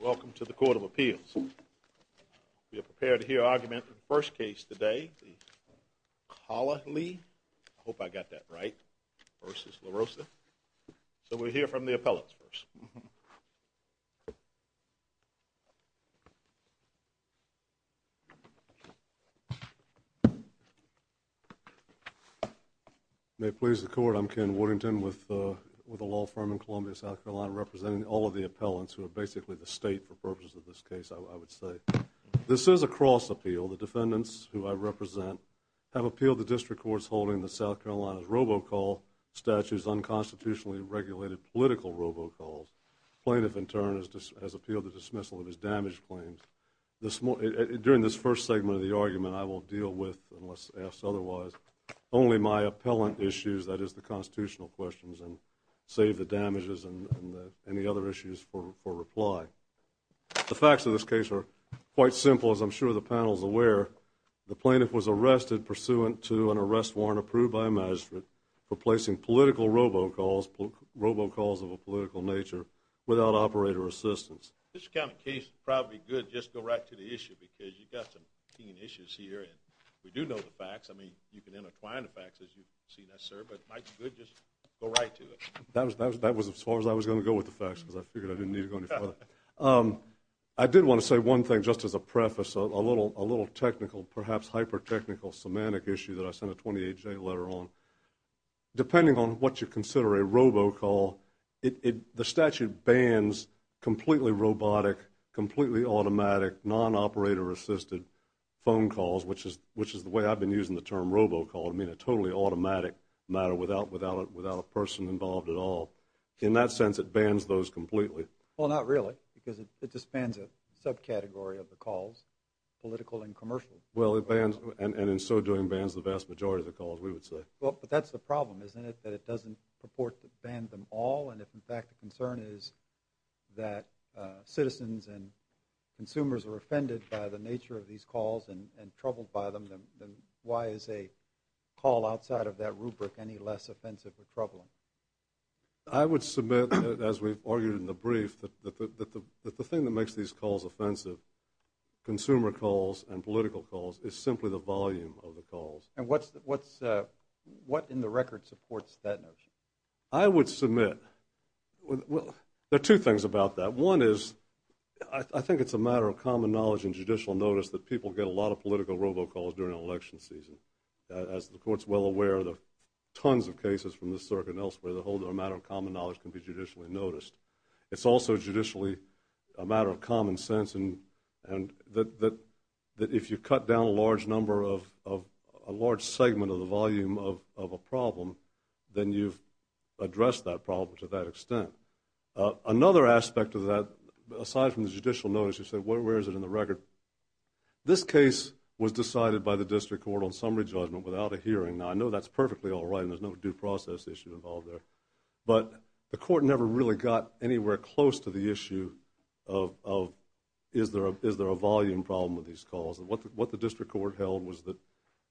Welcome to the Court of Appeals. We are prepared to hear argument for the first case today, Cahaly, I hope I got that right, v. LaRosa. So we'll hear from the appellants first. Ken Woodington, III May it please the Court, I'm Ken Woodington with the law firm in Columbia, South Carolina, representing all of the appellants who are basically the state for purposes of this case, I would say. This is a cross appeal. The defendants who I represent have appealed the district courts holding the South Carolina robocall statutes unconstitutionally regulated political robocalls. Plaintiff, in turn, has appealed the dismissal of his damage claims. During this first segment of the argument, I will deal with, unless asked otherwise, only my appellant issues, that is, the constitutional questions, and save the damages and any other issues for reply. The facts of this case are quite simple, as I'm sure the panel is aware. The plaintiff was arrested pursuant to an arrest warrant approved by a magistrate for placing political robocalls, robocalls of a political nature, without operator assistance. This kind of case is probably good, just go right to the issue, because you've got some keen issues here, and we do know the facts. I mean, you can intertwine the facts as you've seen us, sir, but it might be good to just go right to it. That was as far as I was going to go with the facts, because I figured I didn't need to go any further. I did want to say one thing, just as a preface, a little technical, perhaps hyper-technical, semantic issue that I sent a 28-J letter on. Depending on what you consider a robocall, the statute bans completely robotic, completely automatic, non-operator-assisted phone calls, which is the way I've been using the term robocall. I mean, a totally automatic matter without a person involved at all. In that sense, it bans those completely. Well, not really, because it just bans a subcategory of the calls, political and commercial. Well, it bans, and in so doing, bans the vast majority of the calls, we would say. Well, but that's the problem, isn't it, that it doesn't purport to ban them all, and if in fact the concern is that citizens and consumers are offended by the nature of these calls and troubled by them, then why is a call outside of that rubric any less offensive or troubling? I would submit, as we've argued in the brief, that the thing that makes these calls offensive, consumer calls and political calls, is simply the volume of the calls. And what in the record supports that notion? I would submit, well, there are two things about that. One is, I think it's a matter of common knowledge and judicial notice that people get a lot of political robocalls during election season. As the Court's well aware, there are tons of cases from the circuit and elsewhere that hold that a matter of common knowledge can be judicially noticed. It's also judicially a matter of common sense, and that if you cut down a large number of, a large segment of the volume of a problem, then you've addressed that problem to that extent. Another aspect of that, aside from the judicial notice, you said where is it in the record? This case was decided by the District Court on summary judgment without a hearing. Now, I know that's perfectly all right, and there's no due process issue involved there. But the Court never really got anywhere close to the issue of is there a volume problem with these calls. And what the District Court held was that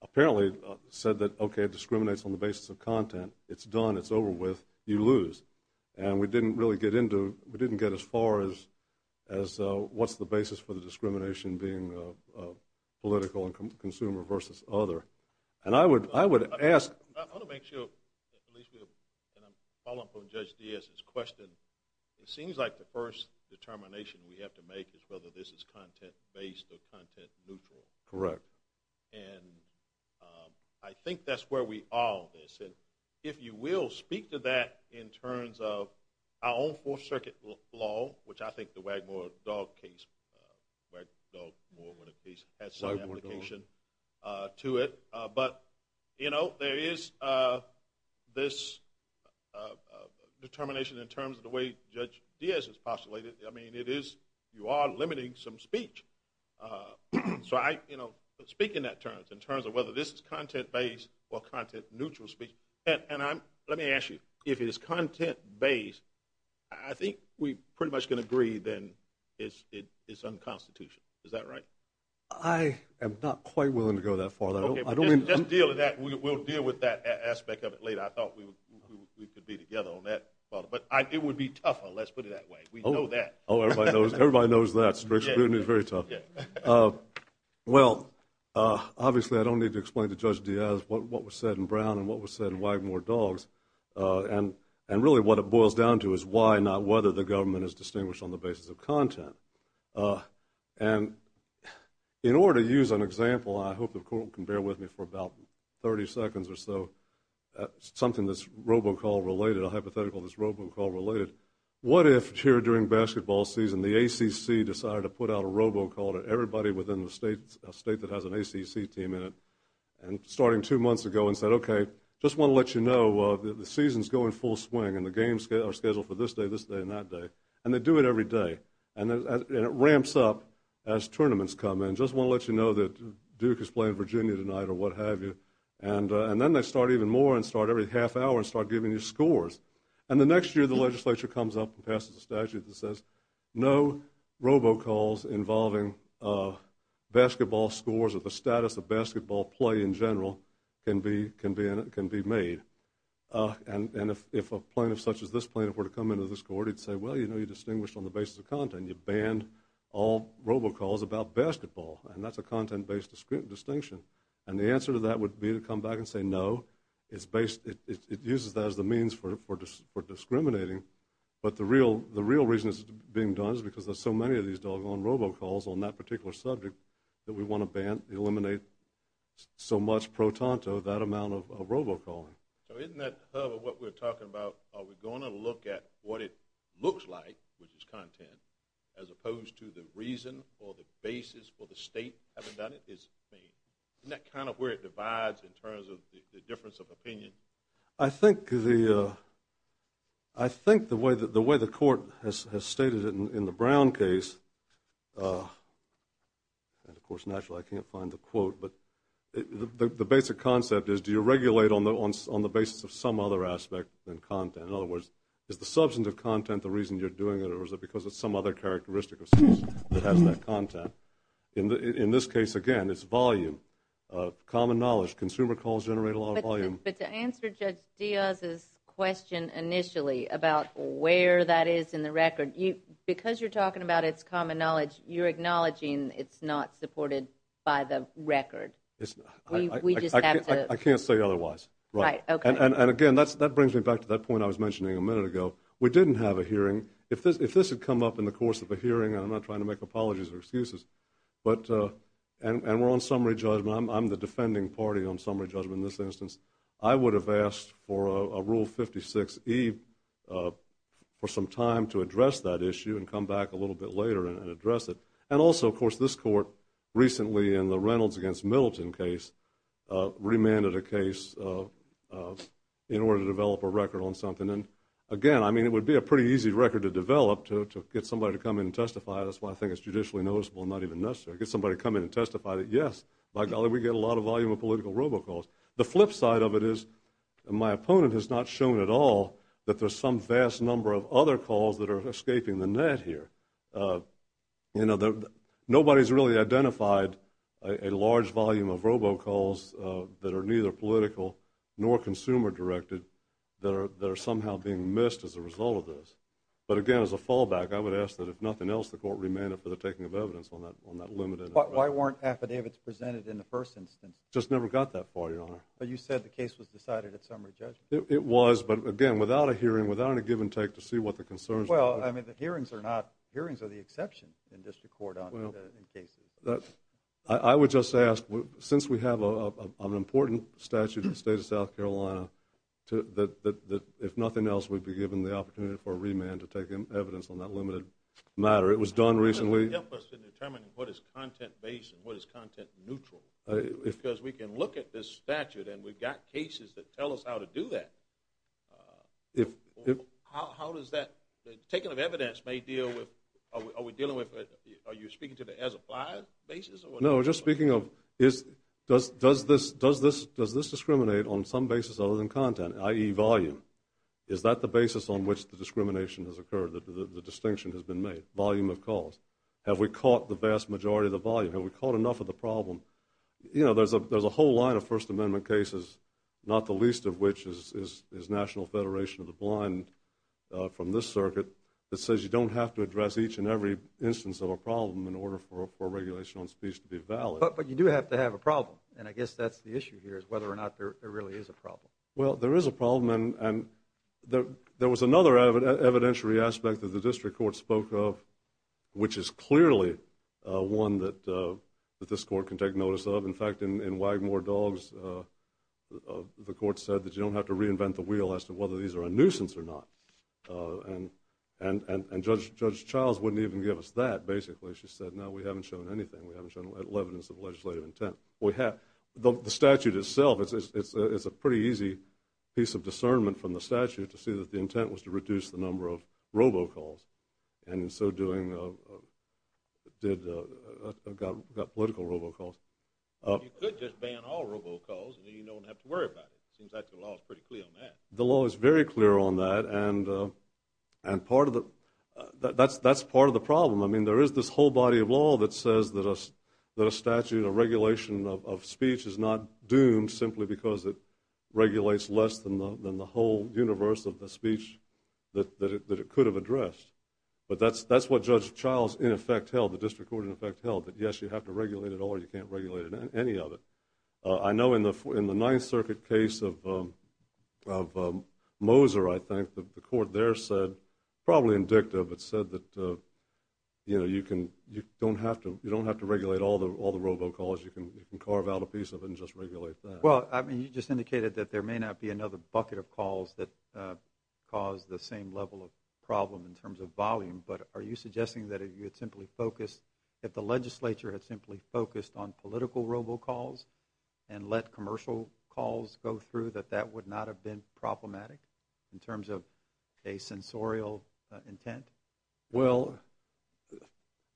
apparently said that, okay, it discriminates on the basis of content, it's done, it's over with, you lose. And we didn't really get into, we didn't get as far as what's the basis for the discrimination being political and consumer versus other. I want to make sure, and I'm following up on Judge Diaz's question, it seems like the first determination we have to make is whether this is content-based or content-neutral. Correct. And I think that's where we are on this. And if you will, speak to that in terms of our own Fourth Circuit law, which I think the Wagmore-Dogg case has some application to it. But, you know, there is this determination in terms of the way Judge Diaz has postulated. I mean, it is, you are limiting some speech. So I, you know, speak in that terms, in terms of whether this is content-based or content-neutral speech. And I'm, let me ask you, if it is content-based, I think we pretty much can agree then it's unconstitutional. Is that right? I am not quite willing to go that far. Okay, just deal with that, we'll deal with that aspect of it later. I thought we could be together on that. But it would be tougher, let's put it that way. We know that. Oh, everybody knows that. Strict scrutiny is very tough. Well, obviously I don't need to explain to Judge Diaz what was said in Brown and what was said in Wagmore-Dogg. And really what it boils down to is why, not whether, the government is distinguished on the basis of content. And in order to use an example, I hope the court can bear with me for about 30 seconds or so, something that's robocall related, a hypothetical that's robocall related. What if here during basketball season the ACC decided to put out a robocall to everybody within the state that has an ACC team in it and starting two months ago and said, okay, just want to let you know, the season's going full swing and the games are scheduled for this day, this day, and that day. And they do it every day. And it ramps up as tournaments come in. Just want to let you know that Duke is playing Virginia tonight or what have you. And then they start even more and start every half hour and start giving you scores. And the next year the legislature comes up and passes a statute that says no robocalls involving basketball scores or the status of basketball play in general can be made. And if a plaintiff such as this plaintiff were to come into this court, he'd say, well, you know, you're distinguished on the basis of content. You banned all robocalls about basketball. And that's a content-based distinction. And the answer to that would be to come back and say no. It uses that as the means for discriminating. But the real reason it's being done is because there's so many of these doggone robocalls on that particular subject that we want to ban, eliminate so much pro tanto, that amount of robocalling. So isn't that what we're talking about? Are we going to look at what it looks like, which is content, as opposed to the reason or the basis or the state having done it? Isn't that kind of where it divides in terms of the difference of opinion? I think the way the court has stated it in the Brown case, and, of course, naturally I can't find the quote, but the basic concept is do you regulate on the basis of some other aspect than content? In other words, is the substance of content the reason you're doing it or is it because of some other characteristic that has that content? In this case, again, it's volume, common knowledge. Consumer calls generate a lot of volume. But to answer Judge Diaz's question initially about where that is in the record, because you're talking about it's common knowledge, you're acknowledging it's not supported by the record. I can't say otherwise. Right, okay. And, again, that brings me back to that point I was mentioning a minute ago. We didn't have a hearing. If this had come up in the course of a hearing, and I'm not trying to make apologies or excuses, and we're on summary judgment, I'm the defending party on summary judgment in this instance, I would have asked for a Rule 56E for some time to address that issue and come back a little bit later and address it. And also, of course, this court recently in the Reynolds against Middleton case remanded a case in order to develop a record on something. And, again, I mean, it would be a pretty easy record to develop, to get somebody to come in and testify. That's why I think it's judicially noticeable and not even necessary. Get somebody to come in and testify that, yes, by golly, we get a lot of volume of political robocalls. The flip side of it is my opponent has not shown at all that there's some vast number of other calls that are escaping the net here. You know, nobody's really identified a large volume of robocalls that are neither political nor consumer-directed that are somehow being missed as a result of this. But, again, as a fallback, I would ask that if nothing else, the court remanded for the taking of evidence on that limited. But why weren't affidavits presented in the first instance? Just never got that far, Your Honor. But you said the case was decided at summary judgment. It was, but, again, without a hearing, without a give and take to see what the concerns were. Well, I mean, the hearings are not ñ hearings are the exception in district court in cases. I would just ask, since we have an important statute in the state of South Carolina, that if nothing else, we'd be given the opportunity for a remand to take evidence on that limited matter. It was done recently. It doesn't help us in determining what is content-based and what is content-neutral because we can look at this statute and we've got cases that tell us how to do that. How does that ñ the taking of evidence may deal with ñ are we dealing with ñ are you speaking to the as-applied basis? No, just speaking of does this discriminate on some basis other than content, i.e., volume? Is that the basis on which the discrimination has occurred, the distinction has been made, volume of cause? Have we caught the vast majority of the volume? Have we caught enough of the problem? You know, there's a whole line of First Amendment cases, not the least of which is National Federation of the Blind from this circuit, that says you don't have to address each and every instance of a problem in order for a regulation on speech to be valid. But you do have to have a problem, and I guess that's the issue here, is whether or not there really is a problem. Well, there is a problem, and there was another evidentiary aspect that the district court spoke of, which is clearly one that this court can take notice of. In fact, in Wagmore Dogs, the court said that you don't have to reinvent the wheel as to whether these are a nuisance or not. And Judge Childs wouldn't even give us that, basically. She said, no, we haven't shown anything. We haven't shown evidence of legislative intent. The statute itself, it's a pretty easy piece of discernment from the statute to see that the intent was to reduce the number of robocalls. And in so doing, it got political robocalls. You could just ban all robocalls, and then you don't have to worry about it. It seems like the law is pretty clear on that. The law is very clear on that, and that's part of the problem. I mean, there is this whole body of law that says that a statute, a regulation of speech, is not doomed simply because it regulates less than the whole universe of the speech that it could have addressed. But that's what Judge Childs in effect held, the district court in effect held, that yes, you have to regulate it all or you can't regulate any of it. I know in the Ninth Circuit case of Moser, I think, the court there said, probably in dicta, but said that you don't have to regulate all the robocalls. You can carve out a piece of it and just regulate that. Well, I mean, you just indicated that there may not be another bucket of calls that cause the same level of problem in terms of volume, but are you suggesting that if you had simply focused, if the legislature had simply focused on political robocalls and let commercial calls go through, that that would not have been problematic in terms of a sensorial intent? Well,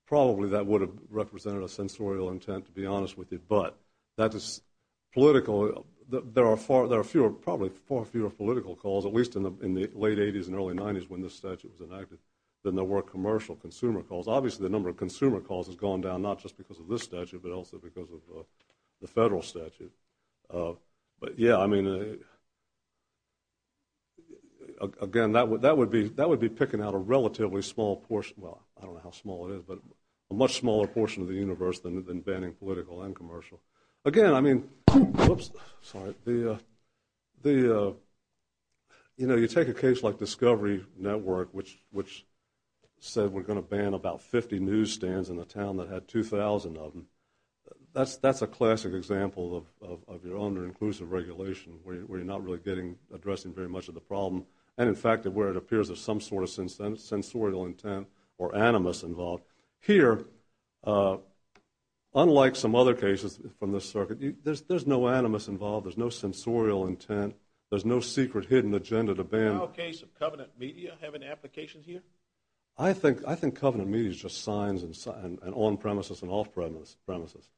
probably that would have represented a sensorial intent, to be honest with you, but that is political. There are far fewer, probably far fewer political calls, at least in the late 80s and early 90s when this statute was enacted, than there were commercial consumer calls. Obviously the number of consumer calls has gone down not just because of this statute but also because of the federal statute. But, yeah, I mean, again, that would be picking out a relatively small portion, well, I don't know how small it is, but a much smaller portion of the universe than banning political and commercial. Again, I mean, you know, you take a case like Discovery Network, which said we're going to ban about 50 newsstands in a town that had 2,000 of them. That's a classic example of your under-inclusive regulation where you're not really addressing very much of the problem and, in fact, where it appears there's some sort of sensorial intent or animus involved. Here, unlike some other cases from this circuit, there's no animus involved, there's no sensorial intent, there's no secret hidden agenda to ban. Does our case of Covenant Media have an application here? I think Covenant Media is just signs and on-premises and off-premises,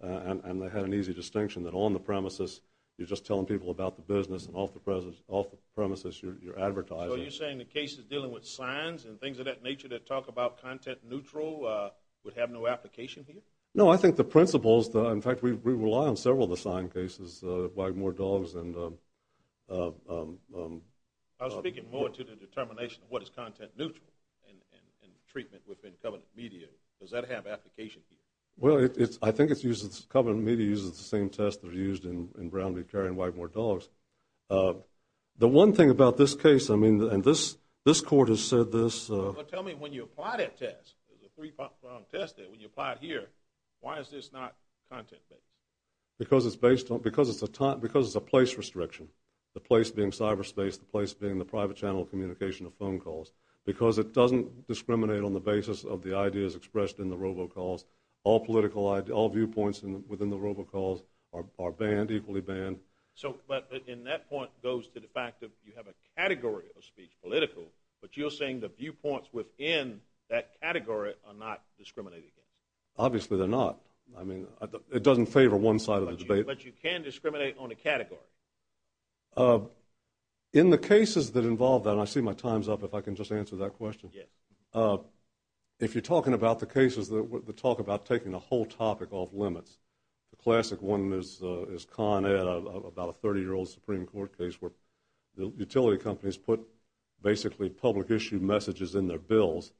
and they had an easy distinction that on the premises you're just telling people about the business and off the premises you're advertising. So you're saying the cases dealing with signs and things of that nature that talk about content neutral would have no application here? No, I think the principles, in fact, we rely on several of the sign cases, Widenmoor Dogs and... I was speaking more to the determination of what is content neutral and treatment within Covenant Media. Does that have application here? Well, I think Covenant Media uses the same test that was used in Brown v. Carry and Widenmoor Dogs. The one thing about this case, I mean, and this court has said this... Well, tell me, when you apply that test, the three-prong test there, when you apply it here, why is this not content-based? Because it's a place restriction, the place being cyberspace, the place being the private channel communication of phone calls, because it doesn't discriminate on the basis of the ideas expressed in the robocalls. All viewpoints within the robocalls are banned, equally banned. But that point goes to the fact that you have a category of speech, political, but you're saying the viewpoints within that category are not discriminated against? Obviously they're not. I mean, it doesn't favor one side of the debate. But you can discriminate on a category? In the cases that involve that, and I see my time's up, if I can just answer that question. Yes. If you're talking about the cases that talk about taking the whole topic off limits, the classic one is Con Ed, about a 30-year-old Supreme Court case where the utility companies put basically public issue messages in their bills,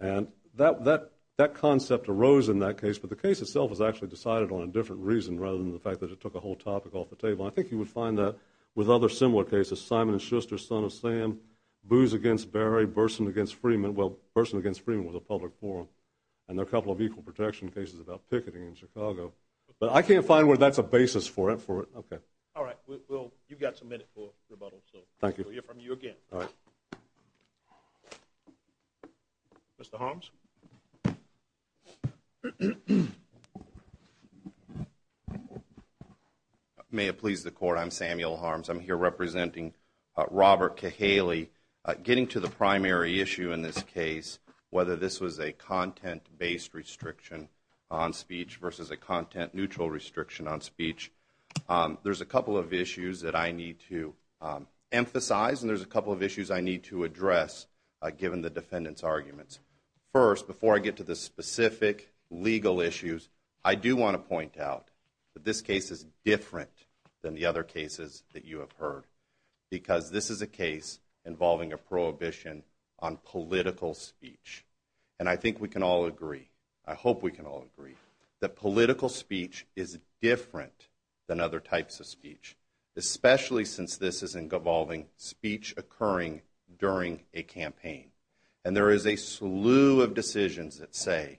and that concept arose in that case, but the case itself was actually decided on a different reason rather than the fact that it took a whole topic off the table. I think you would find that with other similar cases, Simon & Schuster, Son of Sam, Booze Against Barry, Burson Against Freeman. Well, Burson Against Freeman was a public forum, and there are a couple of equal protection cases about picketing in Chicago. But I can't find where that's a basis for it. All right, you've got a minute for rebuttal, so we'll hear from you again. All right. Mr. Holmes? May it please the Court, I'm Samuel Holmes. I'm here representing Robert Cahaley. Getting to the primary issue in this case, whether this was a content-based restriction on speech versus a content-neutral restriction on speech, there's a couple of issues that I need to emphasize, and there's a couple of issues I need to address given the defendant's arguments. First, before I get to the specific legal issues, I do want to point out that this case is different than the other cases that you have heard because this is a case involving a prohibition on political speech. And I think we can all agree, I hope we can all agree, that political speech is different than other types of speech, especially since this is involving speech occurring during a campaign. And there is a slew of decisions that say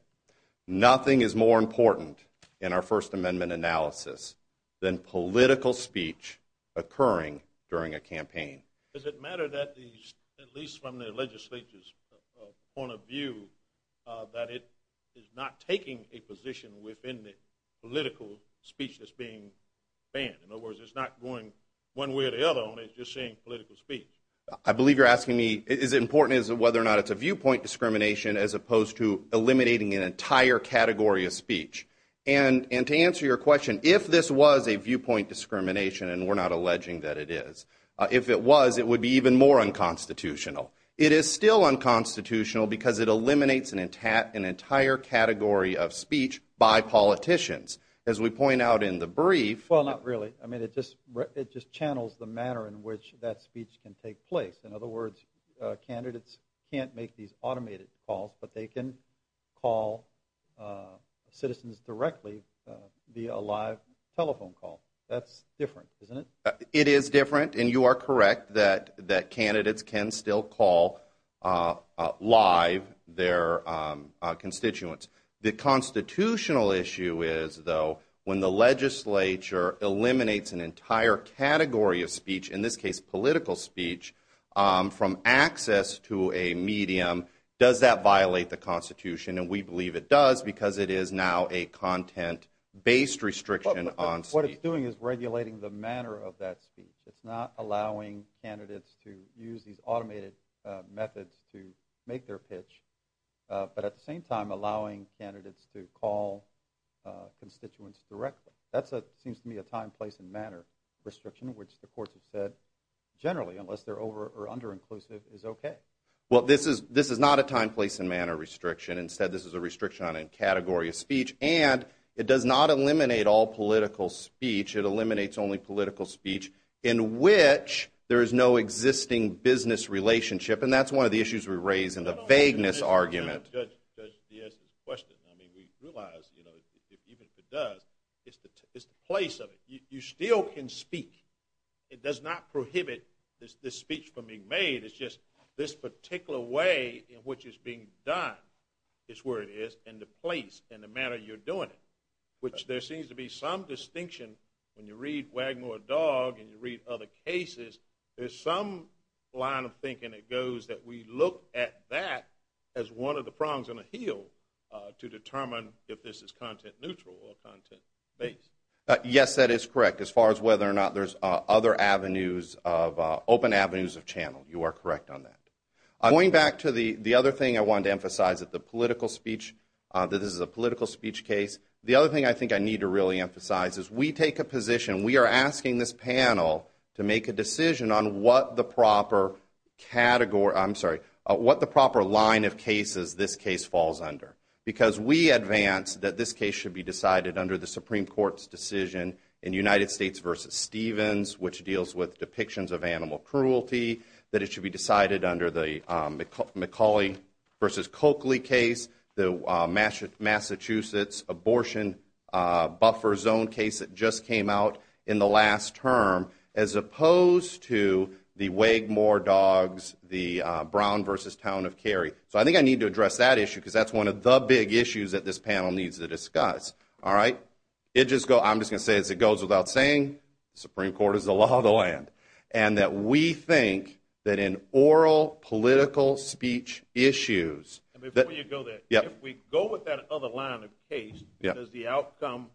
nothing is more important in our First Amendment analysis than political speech occurring during a campaign. Does it matter that at least from the legislature's point of view that it is not taking a position within the political speech that's being banned? In other words, it's not going one way or the other on it, it's just saying political speech. I believe you're asking me is it important whether or not it's a viewpoint discrimination as opposed to eliminating an entire category of speech. And to answer your question, if this was a viewpoint discrimination, and we're not alleging that it is, if it was, it would be even more unconstitutional. It is still unconstitutional because it eliminates an entire category of speech by politicians. As we point out in the brief... Well, not really. I mean, it just channels the manner in which that speech can take place. In other words, candidates can't make these automated calls, but they can call citizens directly via a live telephone call. That's different, isn't it? It is different, and you are correct that candidates can still call live their constituents. The constitutional issue is, though, when the legislature eliminates an entire category of speech, in this case political speech, from access to a medium, does that violate the Constitution? And we believe it does because it is now a content-based restriction on speech. What it's doing is regulating the manner of that speech. It's not allowing candidates to use these automated methods to make their pitch, but at the same time allowing candidates to call constituents directly. That seems to me a time, place, and manner restriction, which the courts have said generally, unless they're over- or under-inclusive, is okay. Well, this is not a time, place, and manner restriction. Instead, this is a restriction on a category of speech, and it does not eliminate all political speech. It eliminates only political speech in which there is no existing business relationship, and that's one of the issues we raise in the vagueness argument. Judge Diaz's question, I mean, we realize, you know, even if it does, it's the place of it. You still can speak. It does not prohibit this speech from being made. It's just this particular way in which it's being done is where it is, and the place and the manner you're doing it, which there seems to be some distinction. When you read Wagner, a dog, and you read other cases, there's some line of thinking that goes that we look at that as one of the prongs on a hill to determine if this is content-neutral or content-based. Yes, that is correct. As far as whether or not there's other avenues of open avenues of channel, you are correct on that. Going back to the other thing I wanted to emphasize, that the political speech, that this is a political speech case, the other thing I think I need to really emphasize is we take a position, we are asking this panel to make a decision on what the proper line of cases this case falls under because we advance that this case should be decided under the Supreme Court's decision in United States v. Stevens, which deals with depictions of animal cruelty, that it should be decided under the McCauley v. Coakley case, the Massachusetts abortion buffer zone case that just came out in the last term, as opposed to the Wagemore dogs, the Brown v. Town of Cary. I think I need to address that issue because that's one of the big issues that this panel needs to discuss. I'm just going to say, as it goes without saying, the Supreme Court is the law of the land. We think that in oral political speech issues... Before you go there, if we go with that other line of case, is the outcome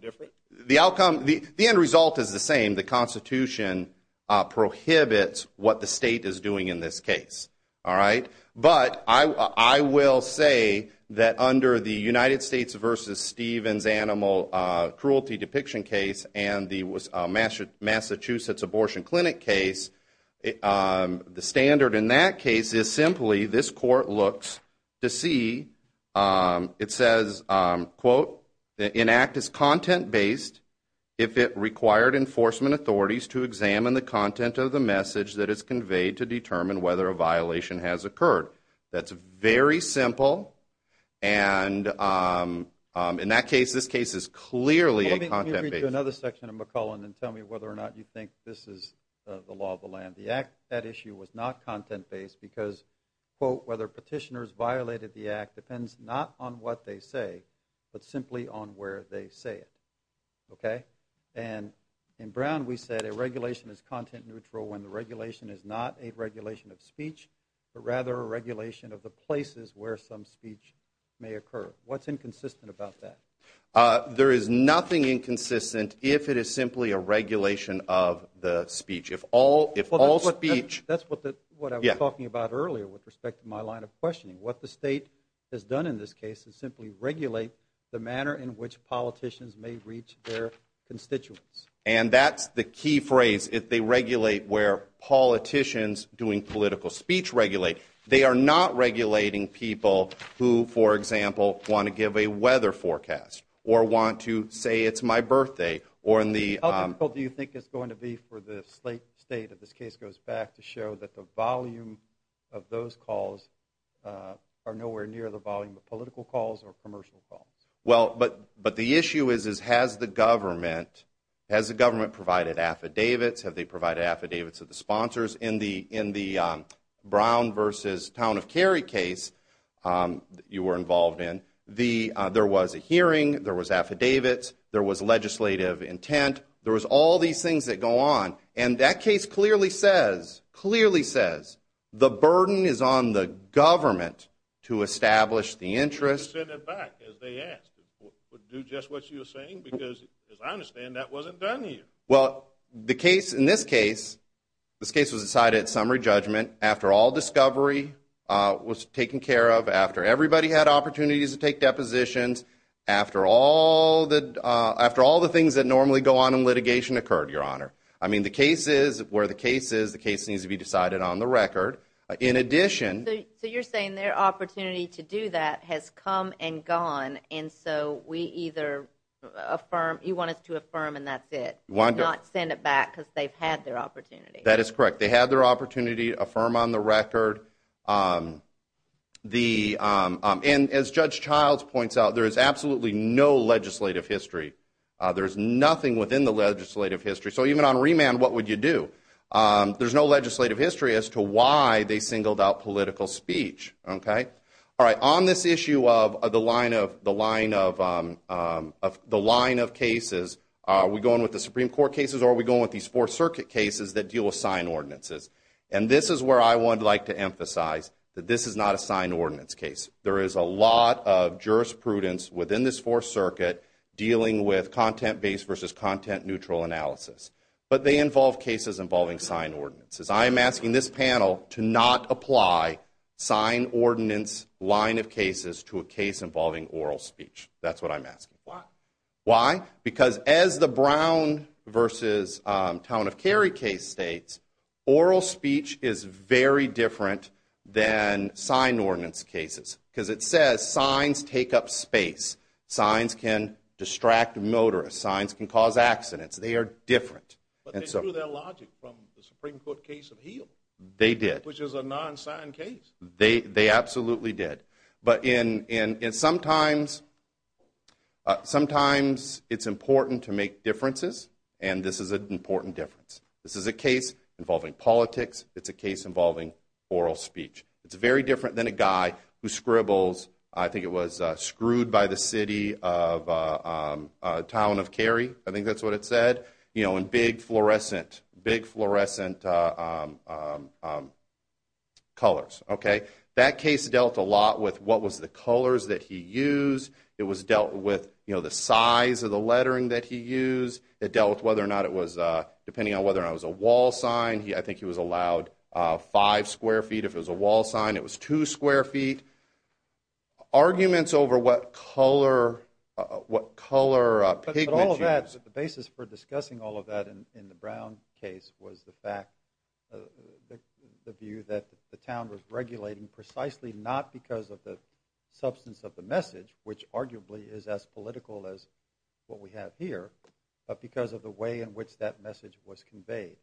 different? The end result is the same. The Constitution prohibits what the state is doing in this case. But I will say that under the United States v. Stevens animal cruelty depiction case and the Massachusetts abortion clinic case, the standard in that case is simply, this court looks to see, it says, quote, that an act is content-based if it required enforcement authorities to examine the content of the message that is conveyed to determine whether a violation has occurred. That's very simple, and in that case, this case is clearly a content-based... Let me read you another section of McClellan and tell me whether or not you think this is the law of the land. The act, that issue was not content-based because, quote, whether petitioners violated the act depends not on what they say but simply on where they say it. Okay? And in Brown, we said a regulation is content-neutral when the regulation is not a regulation of speech but rather a regulation of the places where some speech may occur. What's inconsistent about that? There is nothing inconsistent if it is simply a regulation of the speech. If all speech... That's what I was talking about earlier with respect to my line of questioning. What the state has done in this case is simply regulate the manner in which politicians may reach their constituents. And that's the key phrase, if they regulate where politicians doing political speech regulate. They are not regulating people who, for example, want to give a weather forecast or want to say it's my birthday or in the... How difficult do you think it's going to be for the state, if this case goes back, to show that the volume of those calls are nowhere near the volume of political calls or commercial calls? Well, but the issue is has the government provided affidavits? Have they provided affidavits of the sponsors in the Brown versus Town of Cary case you were involved in? There was a hearing. There was affidavits. There was legislative intent. There was all these things that go on. And that case clearly says, clearly says the burden is on the government to establish the interest. Send it back, as they asked. Do just what you're saying because, as I understand, that wasn't done here. Well, the case in this case, this case was decided at summary judgment. After all discovery was taken care of, after everybody had opportunities to take depositions, after all the things that normally go on in litigation occurred, Your Honor. I mean, the case is where the case is. The case needs to be decided on the record. In addition... And so we either affirm. You want us to affirm and that's it. Not send it back because they've had their opportunity. That is correct. They had their opportunity. Affirm on the record. And as Judge Childs points out, there is absolutely no legislative history. There is nothing within the legislative history. So even on remand, what would you do? There's no legislative history as to why they singled out political speech. All right. On this issue of the line of cases, are we going with the Supreme Court cases or are we going with these Fourth Circuit cases that deal with signed ordinances? And this is where I would like to emphasize that this is not a signed ordinance case. There is a lot of jurisprudence within this Fourth Circuit dealing with content-based versus content-neutral analysis. But they involve cases involving signed ordinances. I am asking this panel to not apply signed ordinance line of cases to a case involving oral speech. That's what I'm asking. Why? Why? Because as the Brown versus Town of Cary case states, oral speech is very different than signed ordinance cases because it says signs take up space. Signs can distract motorists. Signs can cause accidents. They are different. But they threw their logic from the Supreme Court case of Heal. They did. Which is a non-signed case. They absolutely did. But sometimes it's important to make differences, and this is an important difference. This is a case involving politics. It's a case involving oral speech. It's very different than a guy who scribbles, I think it was, screwed by the city of Town of Cary. I think that's what it said. You know, in big fluorescent colors. Okay? That case dealt a lot with what was the colors that he used. It was dealt with, you know, the size of the lettering that he used. It dealt with whether or not it was, depending on whether or not it was a wall sign, I think he was allowed five square feet. If it was a wall sign, it was two square feet. Arguments over what color pigment he used. But all of that, the basis for discussing all of that in the Brown case was the fact, the view that the town was regulating precisely not because of the substance of the message, which arguably is as political as what we have here, but because of the way in which that message was conveyed.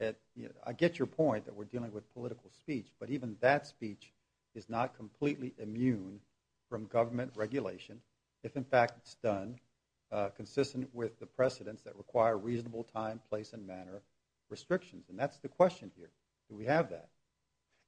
I get your point that we're dealing with political speech, but even that speech is not completely immune from government regulation. If, in fact, it's done consistent with the precedents that require reasonable time, place, and manner restrictions. And that's the question here. Do we have that?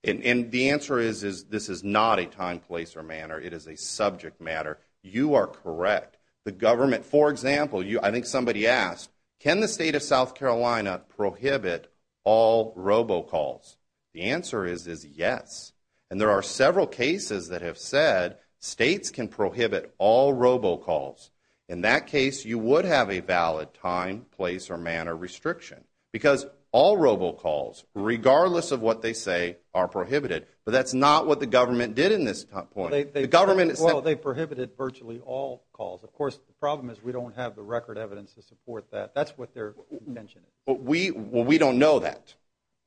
And the answer is this is not a time, place, or manner. It is a subject matter. You are correct. The government, for example, I think somebody asked, can the state of South Carolina prohibit all robocalls? The answer is yes. And there are several cases that have said states can prohibit all robocalls. In that case, you would have a valid time, place, or manner restriction. Because all robocalls, regardless of what they say, are prohibited. But that's not what the government did in this point. Well, they prohibited virtually all calls. Of course, the problem is we don't have the record evidence to support that. That's what their intention is. Well, we don't know that.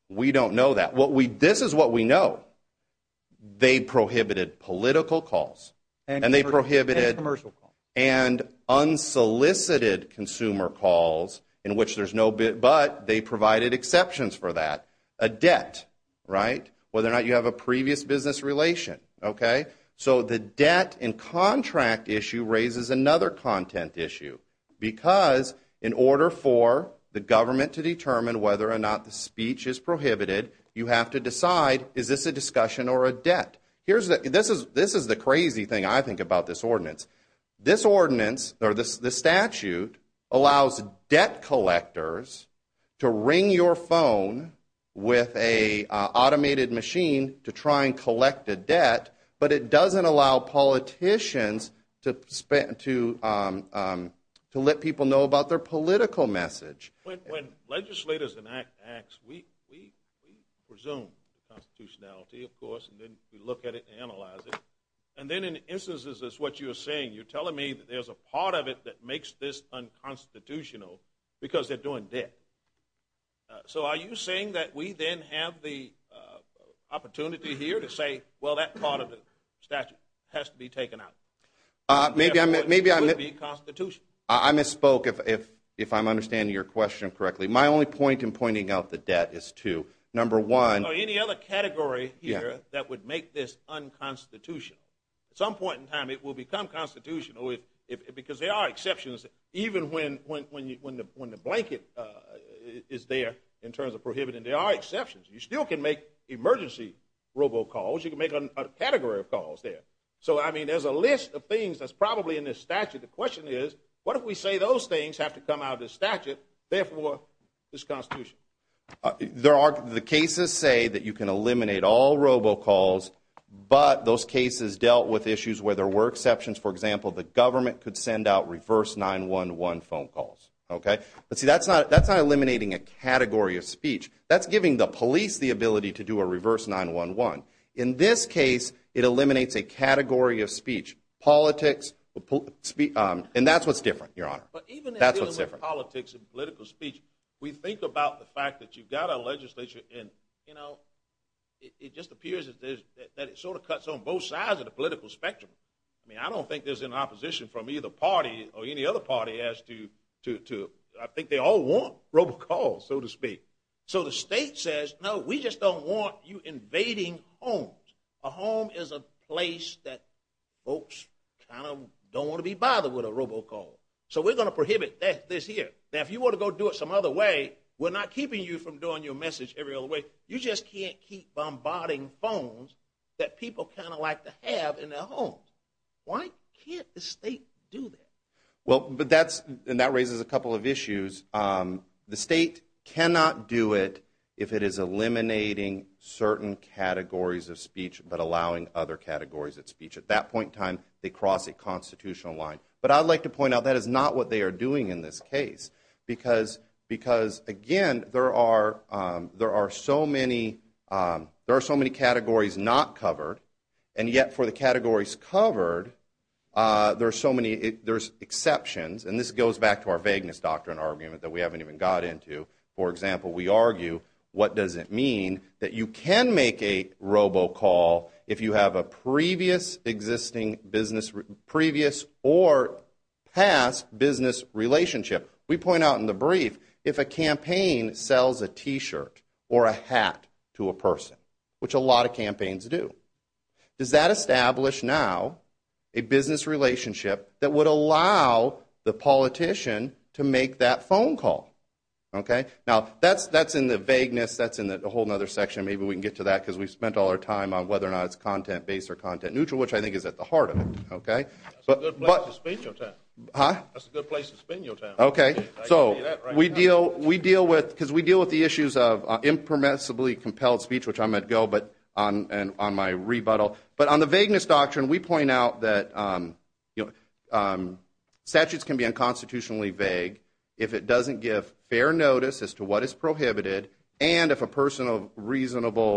We don't know that. This is what we know. They prohibited political calls. And they prohibited commercial calls. And unsolicited consumer calls, but they provided exceptions for that. A debt, right? Whether or not you have a previous business relation. Okay? So the debt and contract issue raises another content issue. Because in order for the government to determine whether or not the speech is prohibited, you have to decide, is this a discussion or a debt? This is the crazy thing, I think, about this ordinance. This ordinance, or this statute, allows debt collectors to ring your phone with an automated machine to try and collect a debt, but it doesn't allow politicians to let people know about their political message. When legislators enact acts, we presume constitutionality, of course, and then we look at it and analyze it. And then in instances, as what you were saying, you're telling me that there's a part of it that makes this unconstitutional because they're doing debt. So are you saying that we then have the opportunity here to say, well, that part of the statute has to be taken out? Maybe I'm mis- It would be constitutional. I misspoke, if I'm understanding your question correctly. My only point in pointing out the debt is to, number one- Or any other category here that would make this unconstitutional. At some point in time it will become constitutional because there are exceptions, even when the blanket is there in terms of prohibiting. There are exceptions. You still can make emergency robocalls. You can make a category of calls there. So, I mean, there's a list of things that's probably in this statute. The question is, what if we say those things have to come out of the statute, therefore it's constitutional? The cases say that you can eliminate all robocalls, but those cases dealt with issues where there were exceptions. For example, the government could send out reverse 911 phone calls. Okay? But, see, that's not eliminating a category of speech. That's giving the police the ability to do a reverse 911. In this case, it eliminates a category of speech. Politics, and that's what's different, Your Honor. But even in dealing with politics and political speech, we think about the fact that you've got a legislature and, you know, it just appears that it sort of cuts on both sides of the political spectrum. I mean, I don't think there's an opposition from either party or any other party as to, I think they all want robocalls, so to speak. So the state says, no, we just don't want you invading homes. A home is a place that folks kind of don't want to be bothered with a robocall. So we're going to prohibit this here. Now, if you want to go do it some other way, we're not keeping you from doing your message every other way. You just can't keep bombarding phones that people kind of like to have in their homes. Why can't the state do that? Well, but that's, and that raises a couple of issues. The state cannot do it if it is eliminating certain categories of speech but allowing other categories of speech. At that point in time, they cross a constitutional line. But I'd like to point out that is not what they are doing in this case because, again, there are so many categories not covered, and yet for the categories covered, there's exceptions. And this goes back to our vagueness doctrine argument that we haven't even got into. For example, we argue, what does it mean that you can make a robocall if you have a previous or past business relationship? We point out in the brief, if a campaign sells a T-shirt or a hat to a person, which a lot of campaigns do, does that establish now a business relationship that would allow the politician to make that phone call? Now, that's in the vagueness, that's in a whole other section. Maybe we can get to that because we've spent all our time on whether or not it's content-based or content-neutral, which I think is at the heart of it. That's a good place to spend your time. Okay, so we deal with, because we deal with the issues of impermissibly compelled speech, which I'm going to go on my rebuttal. But on the vagueness doctrine, we point out that statutes can be unconstitutionally vague if it doesn't give fair notice as to what is prohibited, and if a person of reasonable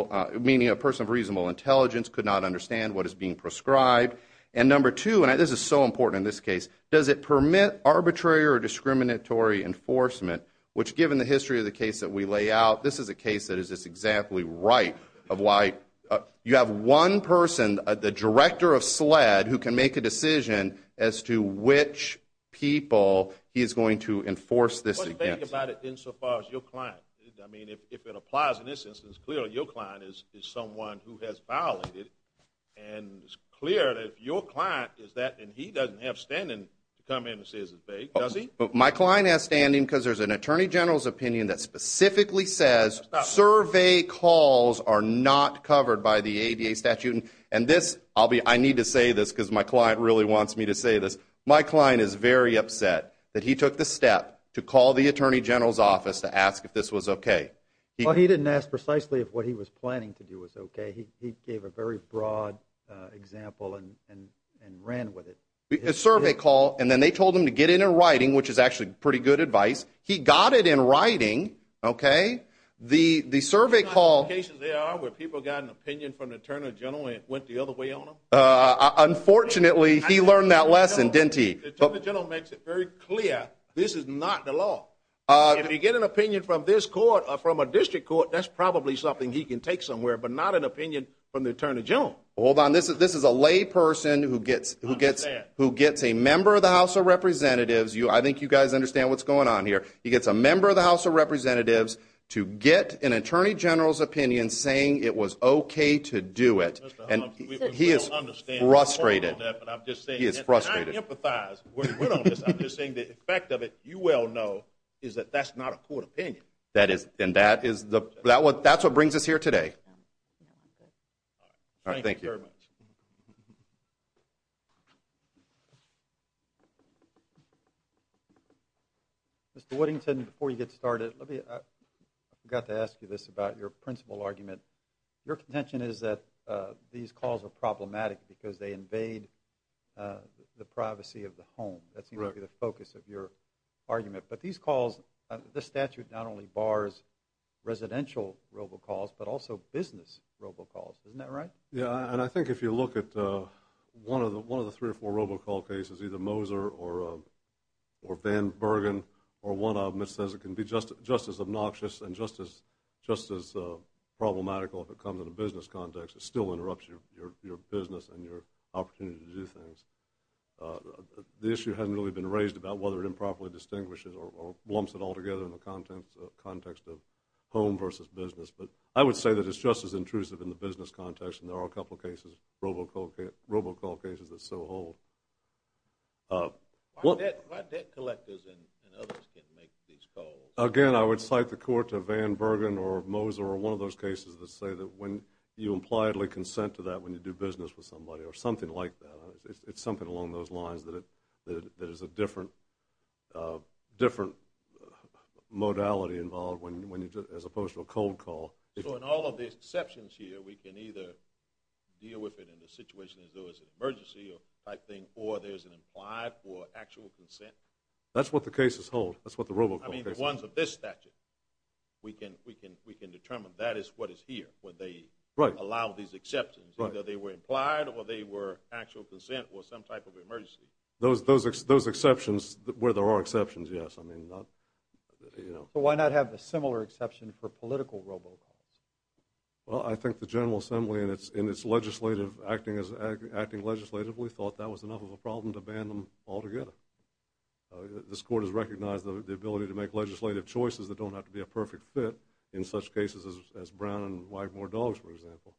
intelligence could not understand what is being prescribed. And number two, and this is so important in this case, does it permit arbitrary or discriminatory enforcement, which given the history of the case that we lay out, this is a case that is just exactly right, of why you have one person, the director of SLED, who can make a decision as to which people he is going to enforce this against. What do you think about it insofar as your client? I mean, if it applies in this instance, clearly your client is someone who has violated, and it's clear that if your client is that and he doesn't have standing to come in and say it's vague, does he? My client has standing because there's an attorney general's opinion that specifically says survey calls are not covered by the ADA statute. And this, I need to say this because my client really wants me to say this. My client is very upset that he took the step to call the attorney general's office to ask if this was okay. Well, he didn't ask precisely if what he was planning to do was okay. He gave a very broad example and ran with it. A survey call, and then they told him to get it in writing, which is actually pretty good advice. He got it in writing, okay? The survey call... You know how many cases there are where people got an opinion from the attorney general and it went the other way on them? Unfortunately, he learned that lesson, didn't he? The attorney general makes it very clear this is not the law. If you get an opinion from this court or from a district court, that's probably something he can take somewhere, but not an opinion from the attorney general. Hold on. This is a layperson who gets a member of the House of Representatives. I think you guys understand what's going on here. He gets a member of the House of Representatives to get an attorney general's opinion saying it was okay to do it. And he is frustrated. He is frustrated. I empathize. I'm just saying the effect of it, you well know, is that that's not a court opinion. And that's what brings us here today. Thank you very much. Mr. Woodington, before you get started, I forgot to ask you this about your principal argument. Your contention is that these calls are problematic because they invade the privacy of the home. That seems to be the focus of your argument. But these calls, the statute not only bars residential robocalls but also business robocalls. Isn't that right? Yeah. And I think if you look at one of the three or four robocall cases, either Moser or Van Bergen or one of them, it says it can be just as obnoxious and just as problematical if it comes in a business context. It still interrupts your business and your opportunity to do things. The issue hasn't really been raised about whether it improperly distinguishes or lumps it all together in the context of home versus business. But I would say that it's just as intrusive in the business context, and there are a couple of cases, robocall cases, that so hold. Why debt collectors and others can't make these calls? Again, I would cite the court to Van Bergen or Moser or one of those cases that say that when you impliedly consent to that when you do business with somebody or something like that, it's something along those lines that is a different modality involved as opposed to a cold call. So in all of the exceptions here, we can either deal with it in the situation as though it's an emergency type thing or there's an implied or actual consent? That's what the cases hold. That's what the robocall cases hold. I mean the ones of this statute. We can determine that is what is here where they allow these exceptions. Either they were implied or they were actual consent or some type of emergency. Those exceptions where there are exceptions, yes. I mean not, you know. But why not have a similar exception for political robocalls? Well, I think the General Assembly in its legislative, acting legislatively, thought that was enough of a problem to ban them altogether. This court has recognized the ability to make legislative choices that don't have to be a perfect fit in such cases as Brown and Wagmore Dogs, for example.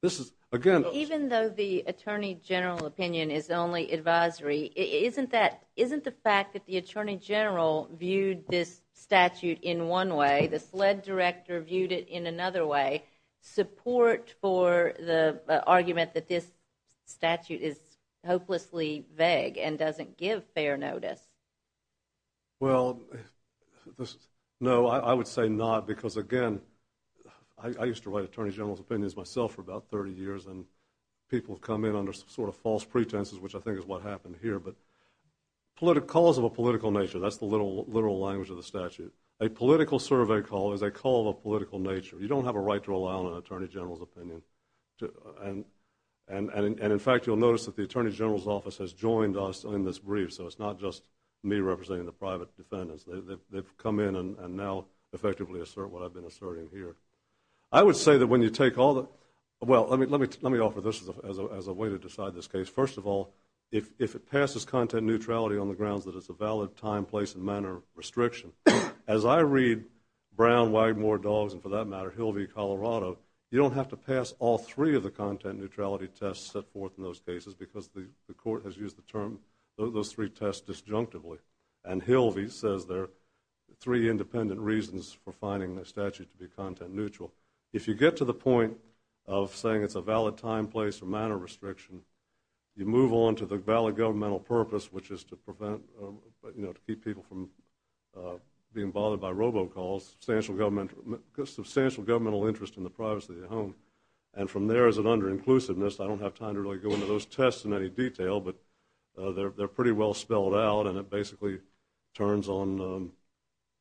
This is, again. Even though the Attorney General opinion is only advisory, isn't the fact that the Attorney General viewed this statute in one way, the SLED Director viewed it in another way, support for the argument that this statute is hopelessly vague and doesn't give fair notice? Well, no, I would say not. Because, again, I used to write Attorney General's opinions myself for about 30 years and people come in under sort of false pretenses, which I think is what happened here. But calls of a political nature, that's the literal language of the statute. A political survey call is a call of a political nature. You don't have a right to rely on an Attorney General's opinion. And, in fact, you'll notice that the Attorney General's office has joined us in this brief, so it's not just me representing the private defendants. They've come in and now effectively assert what I've been asserting here. I would say that when you take all the, well, let me offer this as a way to decide this case. First of all, if it passes content neutrality on the grounds that it's a valid time, place, and manner restriction, as I read Brown, Wagmore Dogs, and for that matter, Hilvey, Colorado, you don't have to pass all three of the content neutrality tests set forth in those cases because the court has used the term, those three tests disjunctively. And Hilvey says there are three independent reasons for finding the statute to be content neutral. If you get to the point of saying it's a valid time, place, or manner restriction, you move on to the valid governmental purpose, which is to prevent, you know, to keep people from being bothered by robocalls, substantial governmental interest in the privacy of the home. And from there is an under-inclusiveness. I don't have time to really go into those tests in any detail, but they're pretty well spelled out and it basically turns on,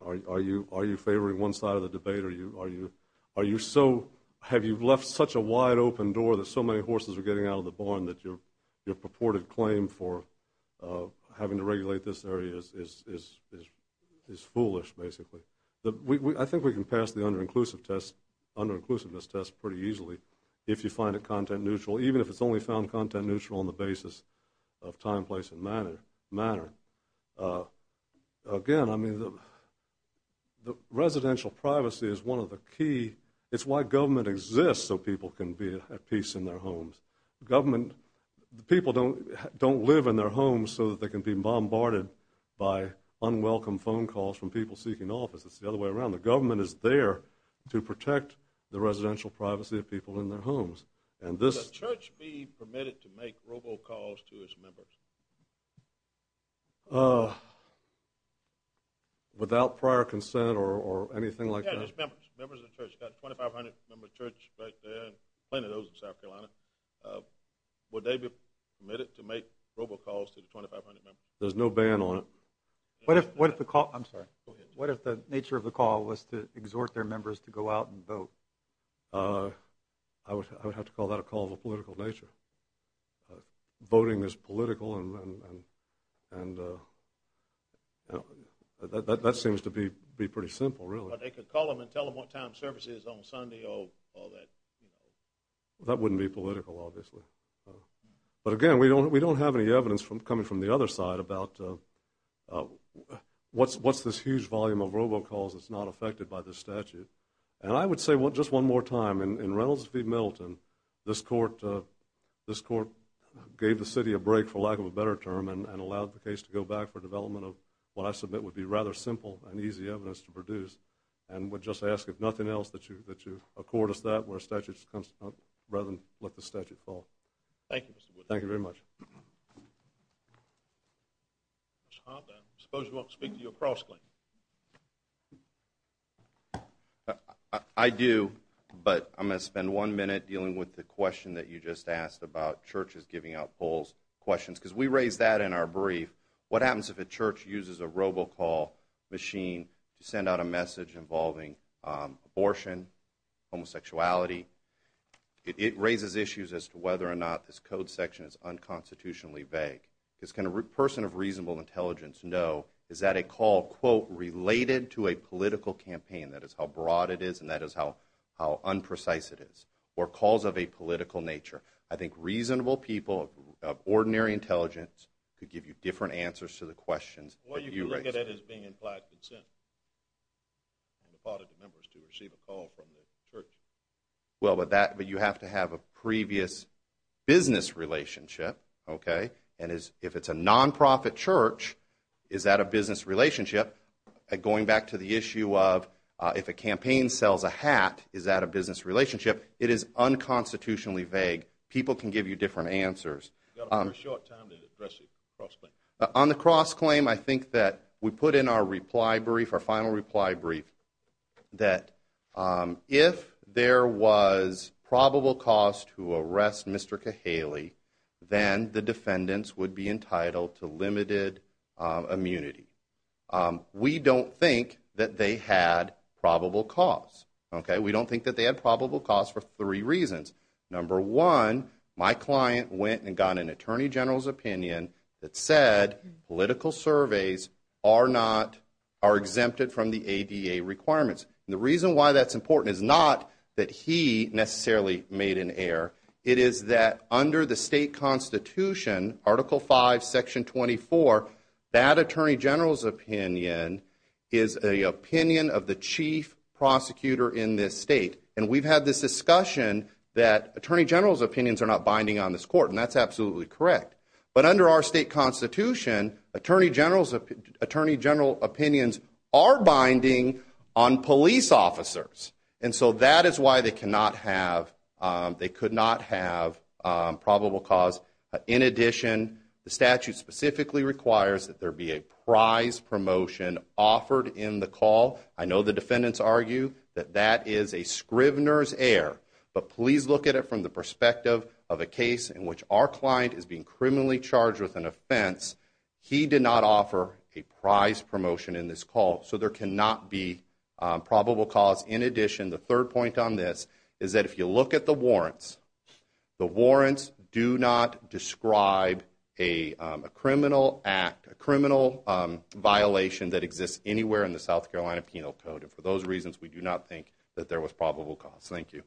are you favoring one side of the debate, or are you so, have you left such a wide open door that so many horses are getting out of the barn that your purported claim for having to regulate this area is foolish, basically. I think we can pass the under-inclusiveness test pretty easily if you find it content neutral, even if it's only found content neutral on the basis of time, place, and manner. Again, I mean, residential privacy is one of the key, it's why government exists so people can be at peace in their homes. Government, people don't live in their homes so that they can be bombarded by unwelcome phone calls from people seeking office. It's the other way around. The government is there to protect the residential privacy of people in their homes. Would the church be permitted to make robocalls to its members? Without prior consent or anything like that? Members of the church, you've got 2,500 members of the church right there, plenty of those in South Carolina. Would they be permitted to make robocalls to the 2,500 members? There's no ban on it. What if the nature of the call was to exhort their members to go out and vote? I would have to call that a call of a political nature. Voting is political and that seems to be pretty simple, really. But they could call them and tell them what time service is on Sunday or that, you know. That wouldn't be political, obviously. But again, we don't have any evidence coming from the other side about what's this huge volume of robocalls that's not affected by this statute. And I would say just one more time, in Reynolds v. Middleton, this court gave the city a break, for lack of a better term, and allowed the case to go back for development of what I submit would be rather simple and easy evidence to produce and would just ask if nothing else that you accord us that where a statute comes up rather than let the statute fall. Thank you, Mr. Wood. Thank you very much. Mr. Hoppe, I suppose you want to speak to your cross-claim. I do, but I'm going to spend one minute dealing with the question that you just asked about churches giving out polls questions, because we raised that in our brief. What happens if a church uses a robocall machine to send out a message involving abortion, homosexuality? It raises issues as to whether or not this code section is unconstitutionally vague. Because can a person of reasonable intelligence know, is that a call, quote, related to a political campaign, that is how broad it is and that is how unprecise it is, or calls of a political nature? I think reasonable people of ordinary intelligence could give you different answers to the questions that you raised. I think that is being implied consent on the part of the members to receive a call from the church. Well, but you have to have a previous business relationship, okay? And if it's a nonprofit church, is that a business relationship? Going back to the issue of if a campaign sells a hat, is that a business relationship? It is unconstitutionally vague. People can give you different answers. You've got a very short time to address the cross-claim. On the cross-claim, I think that we put in our reply brief, our final reply brief, that if there was probable cause to arrest Mr. Kahaley, then the defendants would be entitled to limited immunity. We don't think that they had probable cause, okay? We don't think that they had probable cause for three reasons. Number one, my client went and got an attorney general's opinion that said political surveys are exempted from the ADA requirements. And the reason why that's important is not that he necessarily made an error. It is that under the state constitution, Article V, Section 24, that attorney general's opinion is the opinion of the chief prosecutor in this state. And we've had this discussion that attorney general's opinions are not binding on this court, and that's absolutely correct. But under our state constitution, attorney general's opinions are binding on police officers. And so that is why they could not have probable cause. In addition, the statute specifically requires that there be a prize promotion offered in the call. I know the defendants argue that that is a scrivener's error, but please look at it from the perspective of a case in which our client is being criminally charged with an offense. He did not offer a prize promotion in this call, so there cannot be probable cause. In addition, the third point on this is that if you look at the warrants, the warrants do not describe a criminal act, and for those reasons we do not think that there was probable cause. Thank you.